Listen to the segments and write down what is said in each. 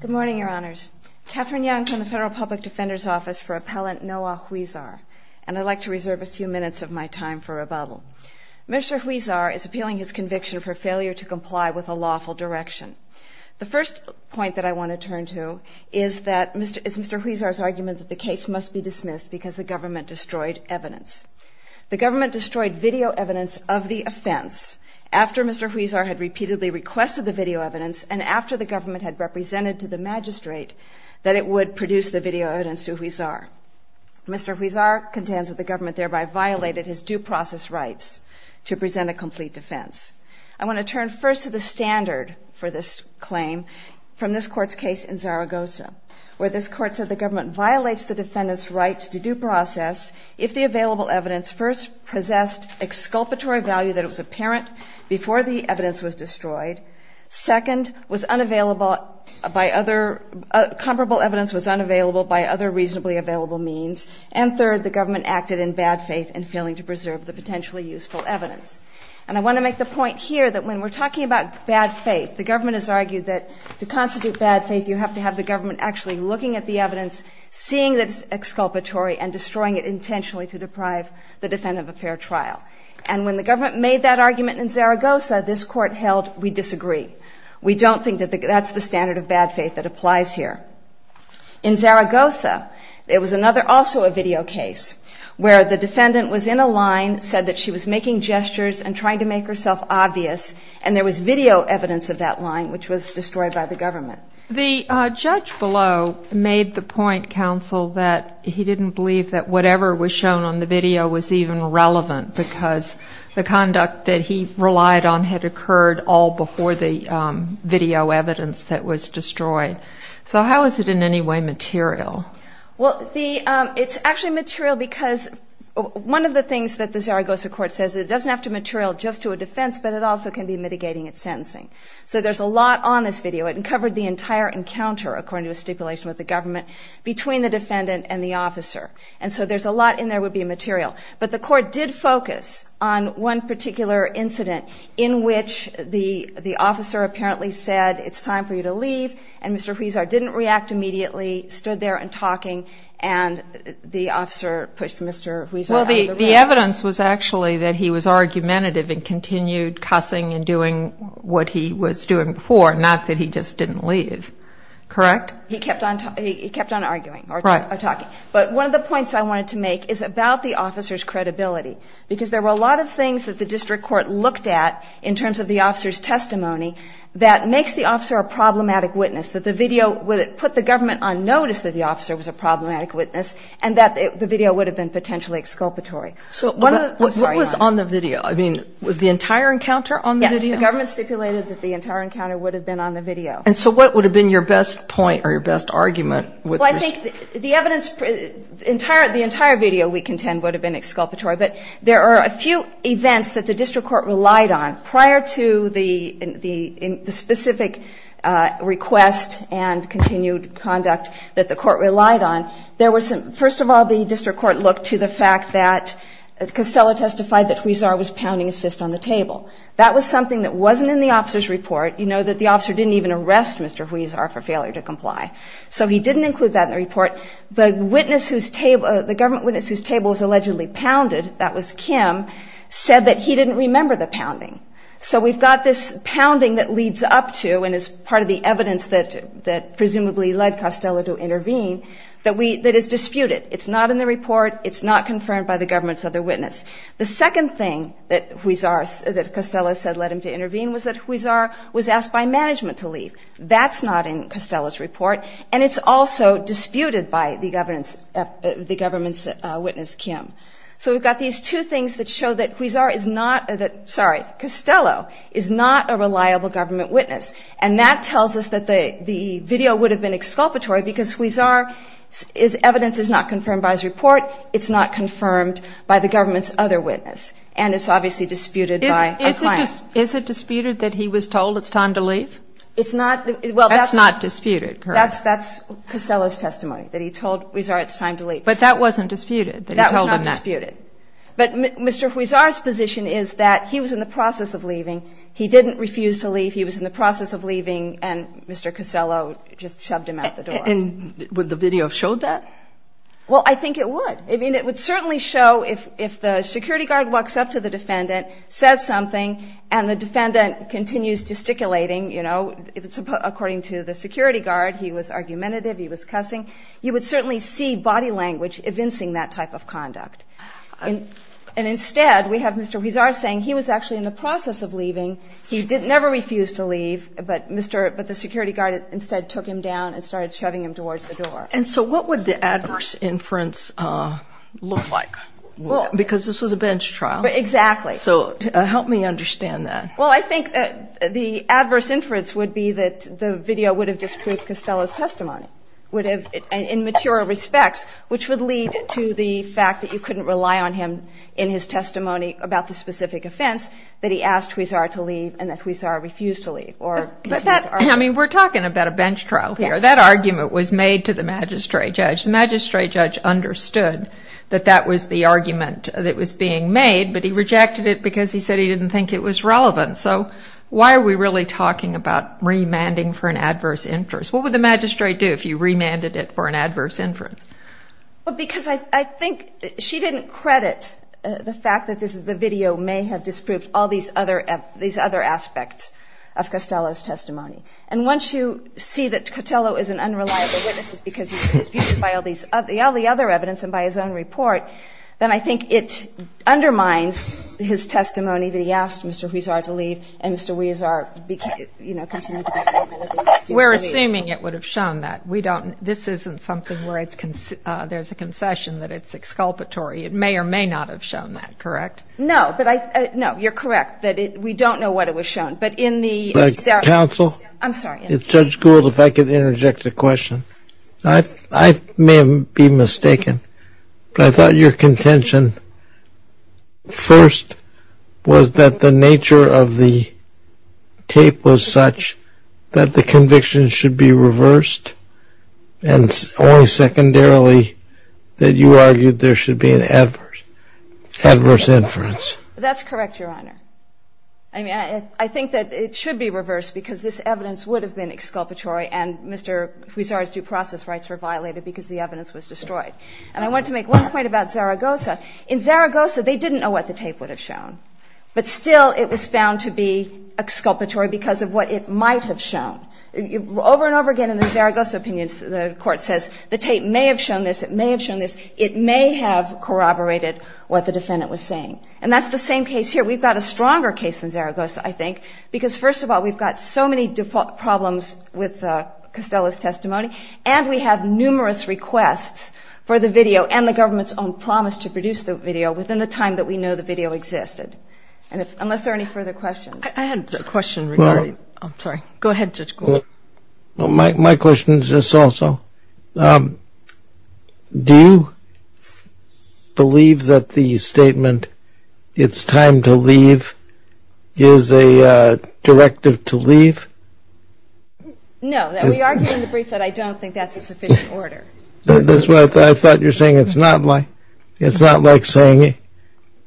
Good morning, Your Honors. Katherine Young from the Federal Public Defender's Office for Appellant Noah Huizar, and I'd like to reserve a few minutes of my time for rebuttal. Mr. Huizar is appealing his conviction for failure to comply with a lawful direction. The first point that I want to turn to is Mr. Huizar's argument that the case must be dismissed because the government destroyed evidence. The government destroyed video evidence of the offense after Mr. Huizar had repeatedly requested the video evidence and after the government had represented to the magistrate that it would produce the video evidence to Huizar. Mr. Huizar contends that the government thereby violated his due process rights to present a complete defense. I want to turn first to the standard for this claim from this Court's case in Zaragoza, where this Court said the government violates the defendant's right to due process if the available evidence first possessed exculpatory value that was apparent before the evidence was destroyed, second, was unavailable by other, comparable evidence was unavailable by other reasonably available means, and third, the government acted in bad faith in failing to preserve the potentially useful evidence. And I want to make the point here that when we're talking about bad faith, the government has argued that to constitute bad faith, you have to have the government actually looking at the evidence, seeing that it's exculpatory and destroying it intentionally to deprive the defendant of a fair trial. And when the government made that argument in Zaragoza, this Court held we disagree. We don't think that that's the standard of bad faith that applies here. In Zaragoza, there was another, also a video case, where the defendant was in a line, said that she was making gestures and trying to make herself obvious, and there was video evidence of that line which was destroyed by the government. The judge below made the point, counsel, that he didn't believe that whatever was shown on the video was even relevant because the conduct that he relied on had occurred all before the video evidence that was destroyed. So how is it in any way material? It's actually material because one of the things that the Zaragoza Court says is it doesn't have to material just to a defense, but it also can be mitigating its sentencing. So there's a lot on this video. It covered the entire encounter, according to a stipulation with the government, between the defendant and the officer. And so there's a lot in there would be material. But the Court did focus on one particular incident in which the officer apparently said, it's time for you to leave, and Mr. Huizar didn't react immediately, stood there and talking, and the officer pushed Mr. Huizar out of the room. The evidence was actually that he was argumentative and continued cussing and doing what he was doing before, not that he just didn't leave. Correct? He kept on arguing or talking. But one of the points I wanted to make is about the officer's credibility because there were a lot of things that the district court looked at in terms of the officer's testimony that makes the officer a problematic witness, that the video put the government on notice that the officer was a problematic witness and that the video would have been potentially exculpatory. So what was on the video? I mean, was the entire encounter on the video? The government stipulated that the entire encounter would have been on the video. And so what would have been your best point or your best argument? Well, I think the evidence, the entire video, we contend, would have been exculpatory. But there are a few events that the district court relied on prior to the specific request and continued conduct that the court relied on. There was some, first of all, the district court looked to the fact that Costello testified that Huizar was pounding his fist on the table. That was something that wasn't in the officer's report. You know that the officer didn't even arrest Mr. Huizar for failure to comply. So he didn't include that in the report. The witness whose table, the government witness whose table was allegedly pounded, that was Kim, said that he didn't remember the pounding. So we've got this pounding that leads up to and is part of the evidence that presumably led Costello to intervene that is disputed. It's not in the report. It's not confirmed by the government's other witness. The second thing that Huizar, that Costello said led him to intervene was that Huizar was asked by management to leave. That's not in Costello's report. And it's also disputed by the government's witness, Kim. So we've got these two things that show that Huizar is not, sorry, Costello is not a reliable government witness. This is not confirmed by his report, it's not confirmed by the government's other witness, and it's obviously disputed by a client. Is it disputed that he was told it's time to leave? It's not. Well, that's not disputed, correct. That's Costello's testimony, that he told Huizar it's time to leave. But that wasn't disputed, that he told him that. That was not disputed. But Mr. Huizar's position is that he was in the process of leaving. He didn't refuse to leave. He was in the process of leaving, and Mr. Costello just shoved him out the door. And would the video have showed that? Well, I think it would. I mean, it would certainly show if the security guard walks up to the defendant, says something, and the defendant continues gesticulating, you know, according to the security guard, he was argumentative, he was cussing, you would certainly see body language evincing that type of conduct. And instead, we have Mr. Huizar saying he was actually in the process of leaving. He never refused to leave, but the security guard instead took him down and started shoving him towards the door. And so what would the adverse inference look like? Because this was a bench trial. Exactly. So help me understand that. Well, I think that the adverse inference would be that the video would have disproved Costello's testimony, would have, in mature respects, which would lead to the fact that you couldn't rely on him in his testimony about the specific offense that he asked Huizar to leave and that Huizar refused to leave. But that, I mean, we're talking about a bench trial here. That argument was made to the magistrate judge. The magistrate judge understood that that was the argument that was being made, but he rejected it because he said he didn't think it was relevant. So why are we really talking about remanding for an adverse inference? What would the magistrate do if you remanded it for an adverse inference? Well, because I think she didn't credit the fact that the video may have disproved all these other aspects of Costello's testimony. And once you see that Costello is an unreliable witness because he's convicted by all the other evidence and by his own report, then I think it undermines his testimony that he asked Mr. Huizar to leave and Mr. Huizar continued to be unreliable. We're assuming it would have shown that. This isn't something where there's a concession that it's exculpatory. It may or may not have shown that, correct? No. No, you're correct. We don't know what it was shown. Counsel? I'm sorry. Judge Gould, if I could interject a question. I may be mistaken, but I thought your contention first was that the nature of the tape was such that the conviction should be reversed and only secondarily that you argued there should be an adverse inference. That's correct, Your Honor. I mean, I think that it should be reversed because this evidence would have been exculpatory and Mr. Huizar's due process rights were violated because the evidence was destroyed. And I want to make one point about Zaragoza. In Zaragoza, they didn't know what the tape would have shown, but still it was found to be exculpatory because of what it might have shown. Over and over again in the Zaragoza opinions, the Court says the tape may have shown this, it may have shown this, it may have corroborated what the defendant was saying. And that's the same case here. We've got a stronger case in Zaragoza, I think, because first of all, we've got so many default problems with Costello's testimony and we have numerous requests for the video and the government's own promise to produce the video within the time that we know the video existed. Unless there are any further questions. I had a question regarding – I'm sorry. Go ahead, Judge Gould. My question is this also. Do you believe that the statement, it's time to leave, is a directive to leave? No. We argue in the brief that I don't think that's a sufficient order. That's what I thought. I thought you were saying it's not like saying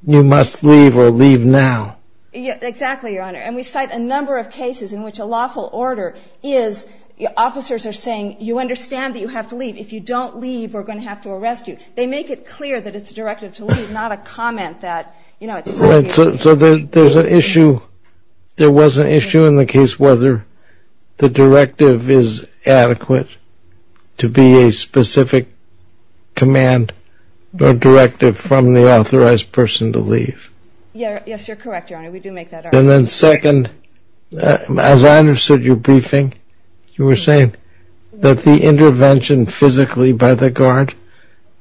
you must leave or leave now. Exactly, Your Honor. And we cite a number of cases in which a lawful order is – officers are saying you understand that you have to leave. If you don't leave, we're going to have to arrest you. They make it clear that it's a directive to leave, not a comment that, you know, it's – So there's an issue – there was an issue in the case whether the directive is adequate to be a specific command or directive from the authorized person to leave. Yes, You're correct, Your Honor. We do make that argument. And then second, as I understood your briefing, you were saying that the intervention physically by the guard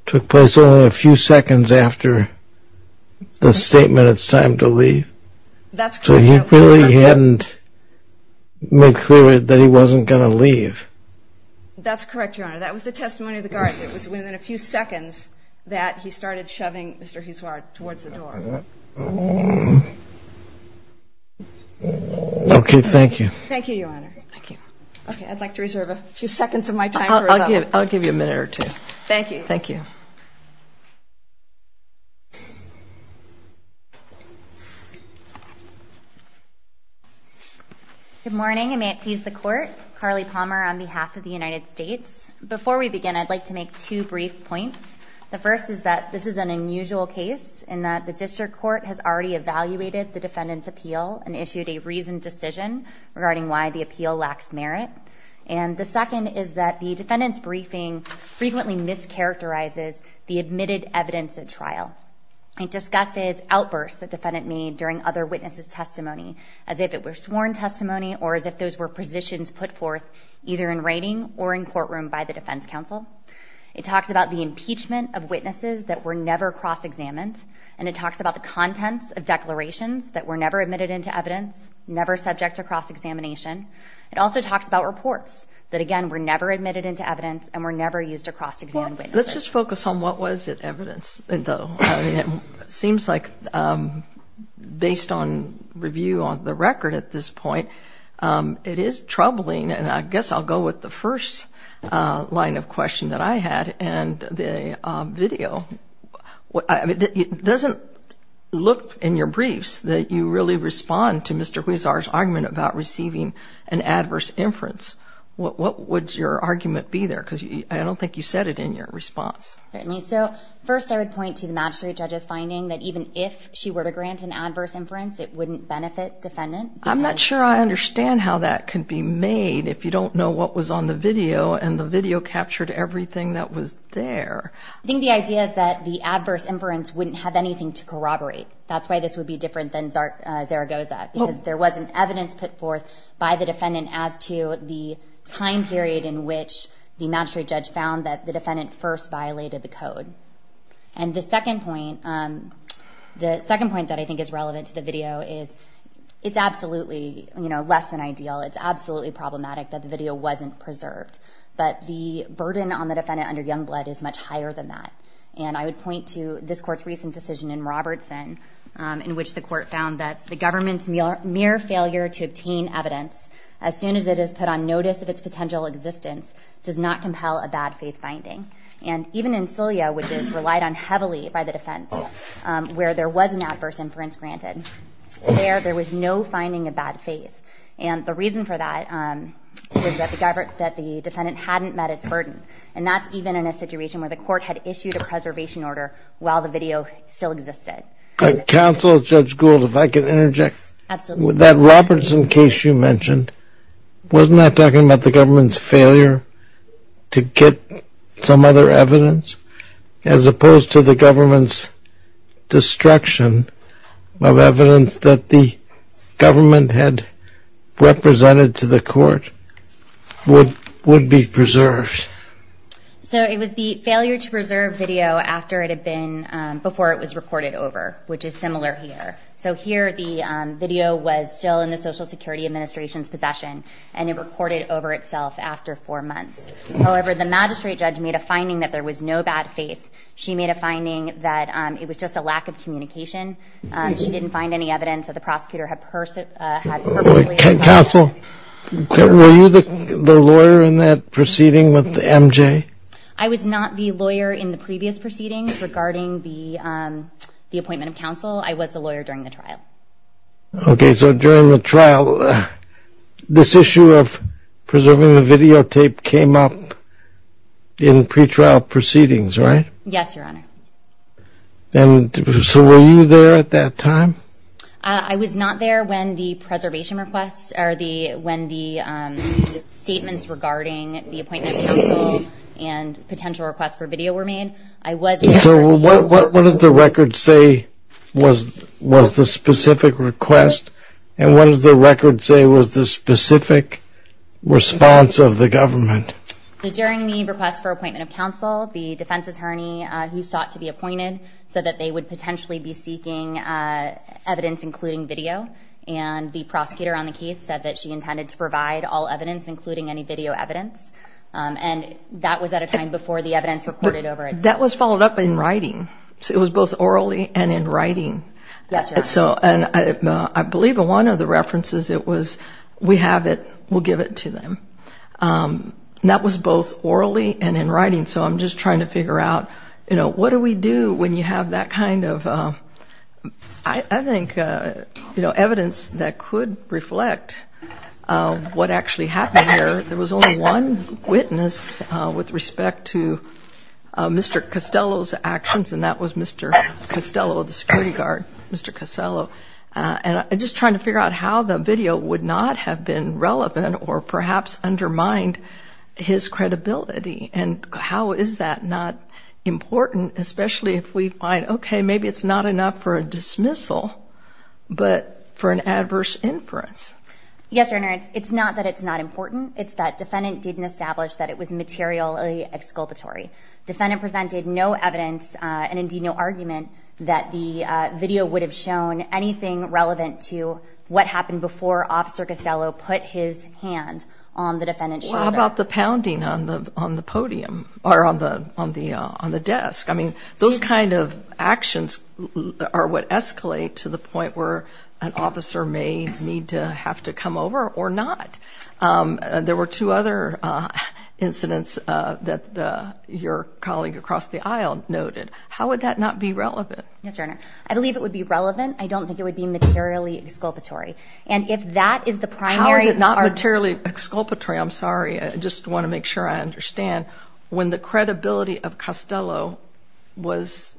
took place only a few seconds after the statement, it's time to leave. That's correct, Your Honor. So you really hadn't made clear that he wasn't going to leave. That's correct, Your Honor. That was the testimony of the guard. It was within a few seconds that he started shoving Mr. Hiswar towards the door. Okay. Thank you. Thank you, Your Honor. Thank you. Okay. I'd like to reserve a few seconds of my time. I'll give you a minute or two. Thank you. Thank you. Good morning, and may it please the Court. Carly Palmer on behalf of the United States. Before we begin, I'd like to make two brief points. The first is that this is an unusual case in that the district court has already evaluated the defendant's appeal and issued a reasoned decision regarding why the appeal lacks merit. And the second is that the defendant's briefing frequently mischaracterizes the admitted evidence at trial. It discusses outbursts the defendant made during other witnesses' testimony as if it were sworn testimony or as if those were positions put forth either in writing or in courtroom by the defense counsel. It talks about the impeachment of witnesses that were never cross-examined, and it talks about the contents of declarations that were never admitted into evidence, never subject to cross-examination. It also talks about reports that, again, were never admitted into evidence and were never used to cross-examine witnesses. Let's just focus on what was evidence, though. It seems like based on review of the record at this point, it is troubling, and I guess I'll go with the first line of question that I had, and the video. It doesn't look in your briefs that you really respond to Mr. Huizar's argument about receiving an adverse inference. What would your argument be there? Because I don't think you said it in your response. Certainly. So first I would point to the magistrate judge's finding that even if she were to grant an adverse inference, it wouldn't benefit defendant. I'm not sure I understand how that could be made if you don't know what was on the video and the video captured everything that was there. I think the idea is that the adverse inference wouldn't have anything to corroborate. That's why this would be different than Zaragoza, because there wasn't evidence put forth by the defendant as to the time period in which the magistrate judge found that the defendant first violated the code. And the second point that I think is relevant to the video is it's absolutely less than ideal. It's absolutely problematic that the video wasn't preserved. But the burden on the defendant under Youngblood is much higher than that. And I would point to this Court's recent decision in Robertson in which the Court found that the government's mere failure to obtain evidence as soon as it is put on notice of its potential existence does not compel a bad faith finding. And even in Celia, which is relied on heavily by the defense, where there was an adverse inference granted, there was no finding of bad faith. And the reason for that is that the defendant hadn't met its burden. And that's even in a situation where the Court had issued a preservation order while the video still existed. Counsel, Judge Gould, if I could interject. Absolutely. That Robertson case you mentioned, wasn't that talking about the government's failure to get some other evidence, as opposed to the government's destruction of evidence that the government had represented to the Court would be preserved? So it was the failure to preserve video after it had been, before it was reported over, which is similar here. So here the video was still in the Social Security Administration's possession and it reported over itself after four months. However, the magistrate judge made a finding that there was no bad faith. She made a finding that it was just a lack of communication. She didn't find any evidence that the prosecutor had personally. Counsel, were you the lawyer in that proceeding with MJ? I was not the lawyer in the previous proceedings regarding the appointment of counsel. I was the lawyer during the trial. Okay, so during the trial, this issue of preserving the videotape came up in pretrial proceedings, right? Yes, Your Honor. And so were you there at that time? I was not there when the preservation requests, or when the statements regarding the appointment of counsel and potential requests for video were made. So what does the record say was the specific request and what does the record say was the specific response of the government? During the request for appointment of counsel, the defense attorney who sought to be appointed said that they would potentially be seeking evidence including video. And the prosecutor on the case said that she intended to provide all evidence, including any video evidence. And that was at a time before the evidence reported over it. That was followed up in writing. It was both orally and in writing. Yes, Your Honor. And I believe one of the references, it was, we have it, we'll give it to them. That was both orally and in writing. So I'm just trying to figure out, you know, what do we do when you have that kind of, I think, evidence that could reflect what actually happened here. There was only one witness with respect to Mr. Costello's actions, and that was Mr. Costello, the security guard, Mr. Costello. And I'm just trying to figure out how the video would not have been relevant or perhaps undermined his credibility. And how is that not important, especially if we find, okay, maybe it's not enough for a dismissal but for an adverse inference. Yes, Your Honor, it's not that it's not important. It's that defendant didn't establish that it was materially exculpatory. Defendant presented no evidence and, indeed, no argument that the video would have shown anything relevant to what happened before Officer Costello put his hand on the defendant's shoulder. Well, how about the pounding on the podium or on the desk? I mean, those kind of actions are what escalate to the point where an there were two other incidents that your colleague across the aisle noted. How would that not be relevant? Yes, Your Honor. I believe it would be relevant. I don't think it would be materially exculpatory. And if that is the primary. How is it not materially exculpatory? I'm sorry. I just want to make sure I understand. When the credibility of Costello was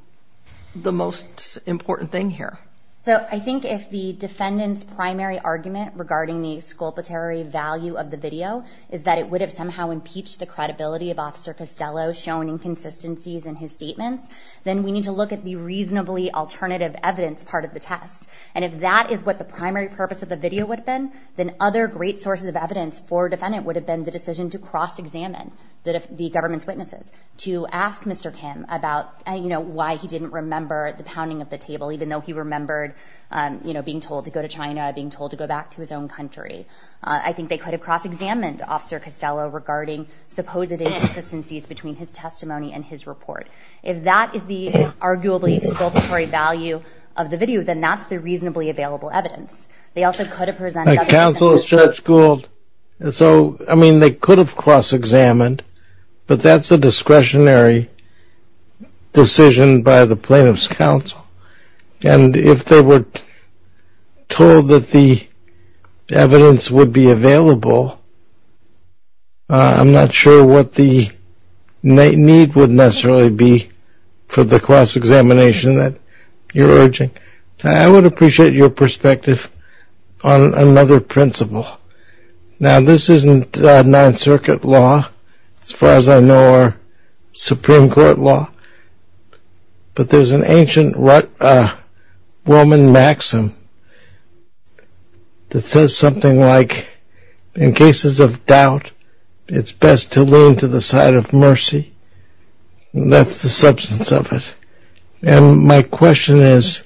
the most important thing here. So I think if the defendant's primary argument regarding the exculpatory value of the video is that it would have somehow impeached the credibility of Officer Costello, shown inconsistencies in his statements, then we need to look at the reasonably alternative evidence part of the test. And if that is what the primary purpose of the video would have been, then other great sources of evidence for a defendant would have been the decision to cross-examine the government's witnesses, to ask Mr. Kim about why he didn't remember the pounding of the table, even though he remembered being told to go to China, being told to go back to his own country. I think they could have cross-examined Officer Costello regarding supposed inconsistencies between his testimony and his report. If that is the arguably exculpatory value of the video, then that's the reasonably available evidence. They also could have presented that to the defendant. Counselors, Judge Gould. So, I mean, they could have cross-examined, but that's a discretionary decision by the plaintiff's counsel. And if they were told that the evidence would be available, I'm not sure what the need would necessarily be for the cross-examination that you're urging. I would appreciate your perspective on another principle. Now, this isn't Ninth Circuit law, as far as I know, or Supreme Court law, but there's an ancient Roman maxim that says something like, in cases of doubt, it's best to lean to the side of mercy. That's the substance of it. And my question is,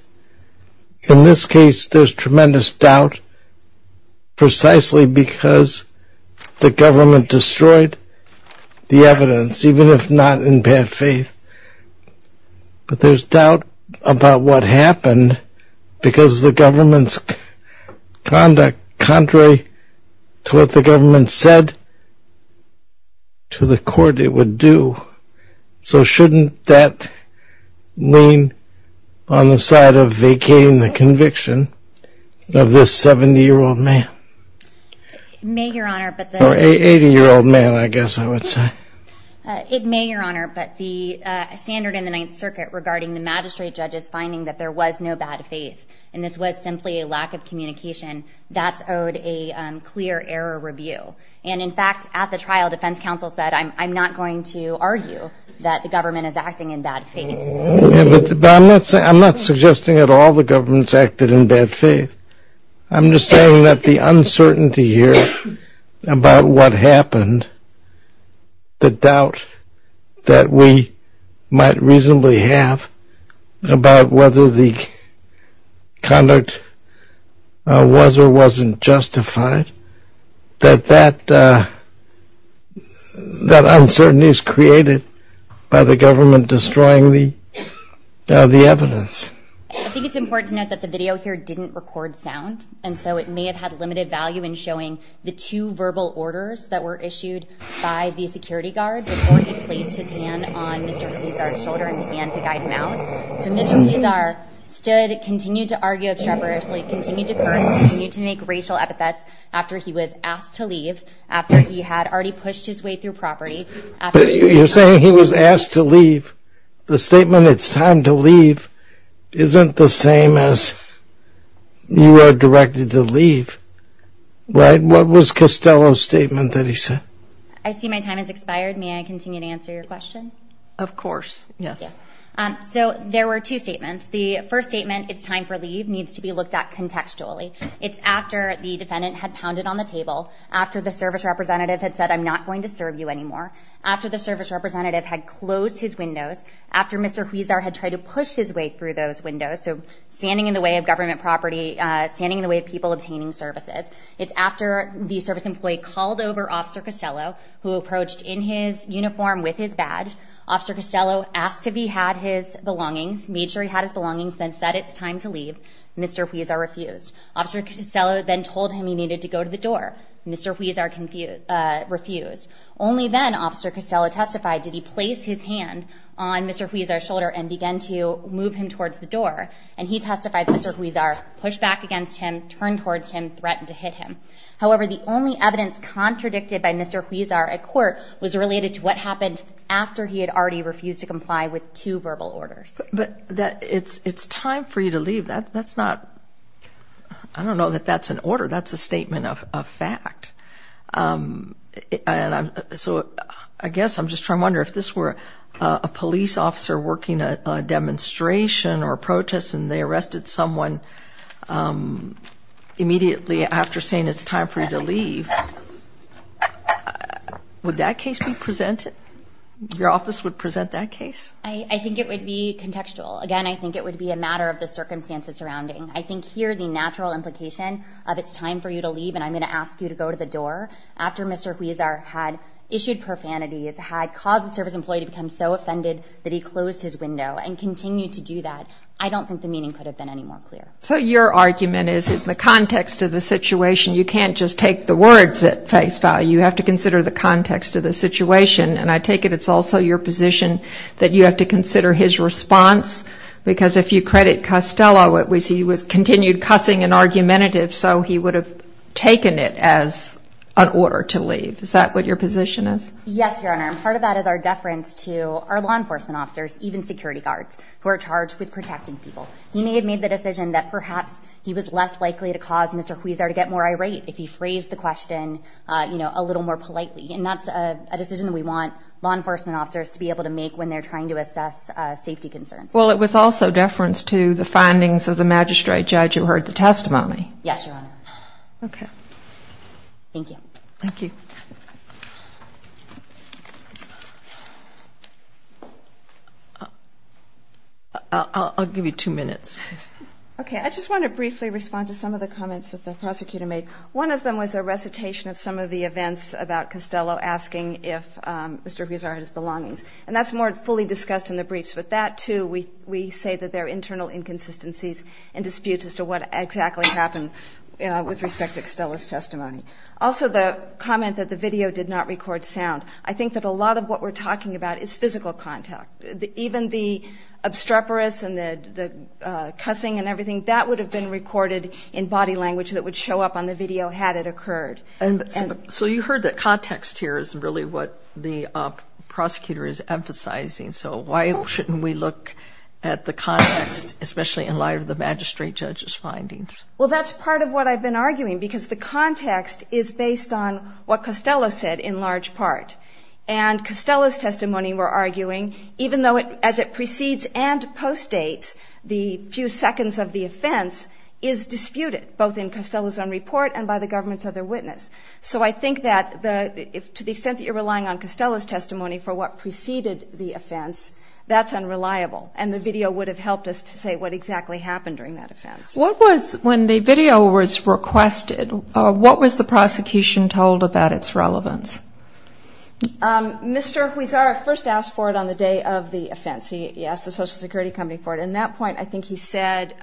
in this case, there's tremendous doubt, precisely because the government destroyed the evidence, even if not in bad faith. But there's doubt about what happened because of the government's conduct, contrary to what the government said to the court it would do. So shouldn't that lean on the side of vacating the conviction of this 70-year-old man? May, Your Honor, but the — Or 80-year-old man, I guess I would say. It may, Your Honor, but the standard in the Ninth Circuit regarding the magistrate judge's finding that there was no bad faith and this was simply a lack of communication, that's owed a clear error review. And, in fact, at the trial, defense counsel said, I'm not going to argue that the government is acting in bad faith. But I'm not suggesting at all the government's acted in bad faith. I'm just saying that the uncertainty here about what happened, the doubt that we might reasonably have about whether the conduct was or wasn't justified, that that uncertainty is created by the government destroying the evidence. I think it's important to note that the video here didn't record sound, and so it may have had limited value in showing the two verbal orders that were issued by the security guard before he placed his hand on Mr. Pizarro's shoulder and began to guide him out. So Mr. Pizarro stood, continued to argue treacherously, continued to curse, continued to make racial epithets after he was asked to leave, after he had already pushed his way through property. But you're saying he was asked to leave. The statement, it's time to leave, isn't the same as you are directed to leave, right? What was Costello's statement that he said? I see my time has expired. May I continue to answer your question? Of course, yes. So there were two statements. The first statement, it's time for leave, needs to be looked at contextually. It's after the defendant had pounded on the table, after the service representative had said, I'm not going to serve you anymore, after the service representative had closed his windows, after Mr. Pizarro had tried to push his way through those windows, so standing in the way of government property, standing in the way of people obtaining services. It's after the service employee called over Officer Costello, who approached in his uniform with his badge. Officer Costello asked if he had his belongings, made sure he had his belongings, then said it's time to leave. Mr. Pizarro refused. Officer Costello then told him he needed to go to the door. Mr. Pizarro refused. Only then, Officer Costello testified, did he place his hand on Mr. Pizarro's shoulder and began to move him towards the door. And he testified that Mr. Pizarro pushed back against him, turned towards him, threatened to hit him. However, the only evidence contradicted by Mr. Pizarro at court was related to what happened after he had already refused to comply with two verbal orders. But it's time for you to leave. That's not, I don't know that that's an order. That's a statement of fact. And so I guess I'm just trying to wonder if this were a police officer working a demonstration or a protest and they arrested someone immediately after saying it's time for you to leave. Would that case be presented? Your office would present that case? I think it would be contextual. Again, I think it would be a matter of the circumstances surrounding. I think here the natural implication of it's time for you to leave and I'm going to ask you to go to the door after Mr. Pizarro had issued profanities, had caused the service employee to become so offended that he closed his window and continued to do that. I don't think the meaning could have been any more clear. So your argument is in the context of the situation, you can't just take the words at face value. You have to consider the context of the situation. And I take it it's also your position that you have to consider his response because if you credit Costello, it was he continued cussing and argumentative so he would have taken it as an order to leave. Is that what your position is? Yes, Your Honor. And part of that is our deference to our law enforcement officers, even security guards, who are charged with protecting people. He may have made the decision that perhaps he was less likely to cause Mr. Huizar to get more irate if he phrased the question a little more politely. And that's a decision that we want law enforcement officers to be able to make when they're trying to assess safety concerns. Well, it was also deference to the findings of the magistrate judge who heard the testimony. Yes, Your Honor. Okay. Thank you. Thank you. I'll give you two minutes. Okay. I just want to briefly respond to some of the comments that the prosecutor made. One of them was a recitation of some of the events about Costello asking if Mr. Huizar had his belongings. And that's more fully discussed in the briefs. But that, too, we say that there are internal inconsistencies and disputes as to what exactly happened with respect to Costello's testimony. Also, the comment that the video did not record sound. I think that a lot of what we're talking about is physical contact. Even the obstreperous and the cussing and everything, that would have been recorded in body language that would show up on the video had it occurred. So you heard that context here is really what the prosecutor is emphasizing. So why shouldn't we look at the context, especially in light of the magistrate judge's findings? Well, that's part of what I've been arguing, because the context is based on what Costello said in large part. And Costello's testimony, we're arguing, even though as it precedes and postdates the few seconds of the offense, is disputed, both in Costello's own report and by the government's other witness. So I think that to the extent that you're relying on Costello's testimony for what preceded the offense, that's unreliable. And the video would have helped us to say what exactly happened during that offense. When the video was requested, what was the prosecution told about its relevance? Mr. Huizar first asked for it on the day of the offense. He asked the Social Security company for it. At that point, I think he said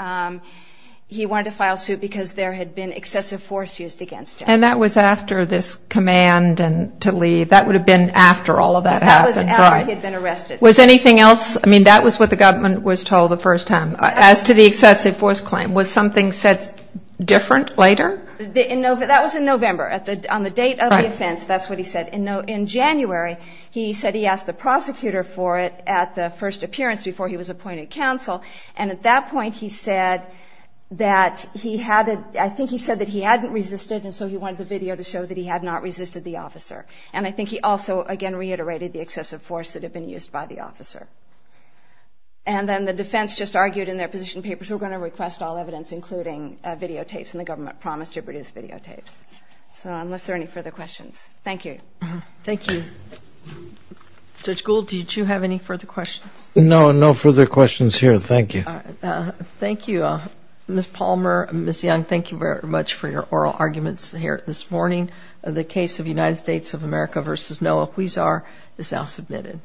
he wanted to file suit because there had been excessive force used against him. And that was after this command to leave. That would have been after all of that happened. That was after he had been arrested. Was anything else? I mean, that was what the government was told the first time. As to the excessive force claim, was something said different later? That was in November. On the date of the offense, that's what he said. In January, he said he asked the prosecutor for it at the first appearance before he was appointed counsel. And at that point, he said that he hadn't resisted, and so he wanted the video to show that he had not resisted the officer. And I think he also, again, reiterated the excessive force that had been used by the officer. And then the defense just argued in their position papers we're going to request all evidence, including videotapes, and the government promised to produce videotapes. So unless there are any further questions. Thank you. Thank you. Judge Gould, did you have any further questions? No, no further questions here. Thank you. Thank you. Ms. Palmer and Ms. Young, thank you very much for your oral arguments here this morning. The case of United States of America v. Noah Huizar is now submitted.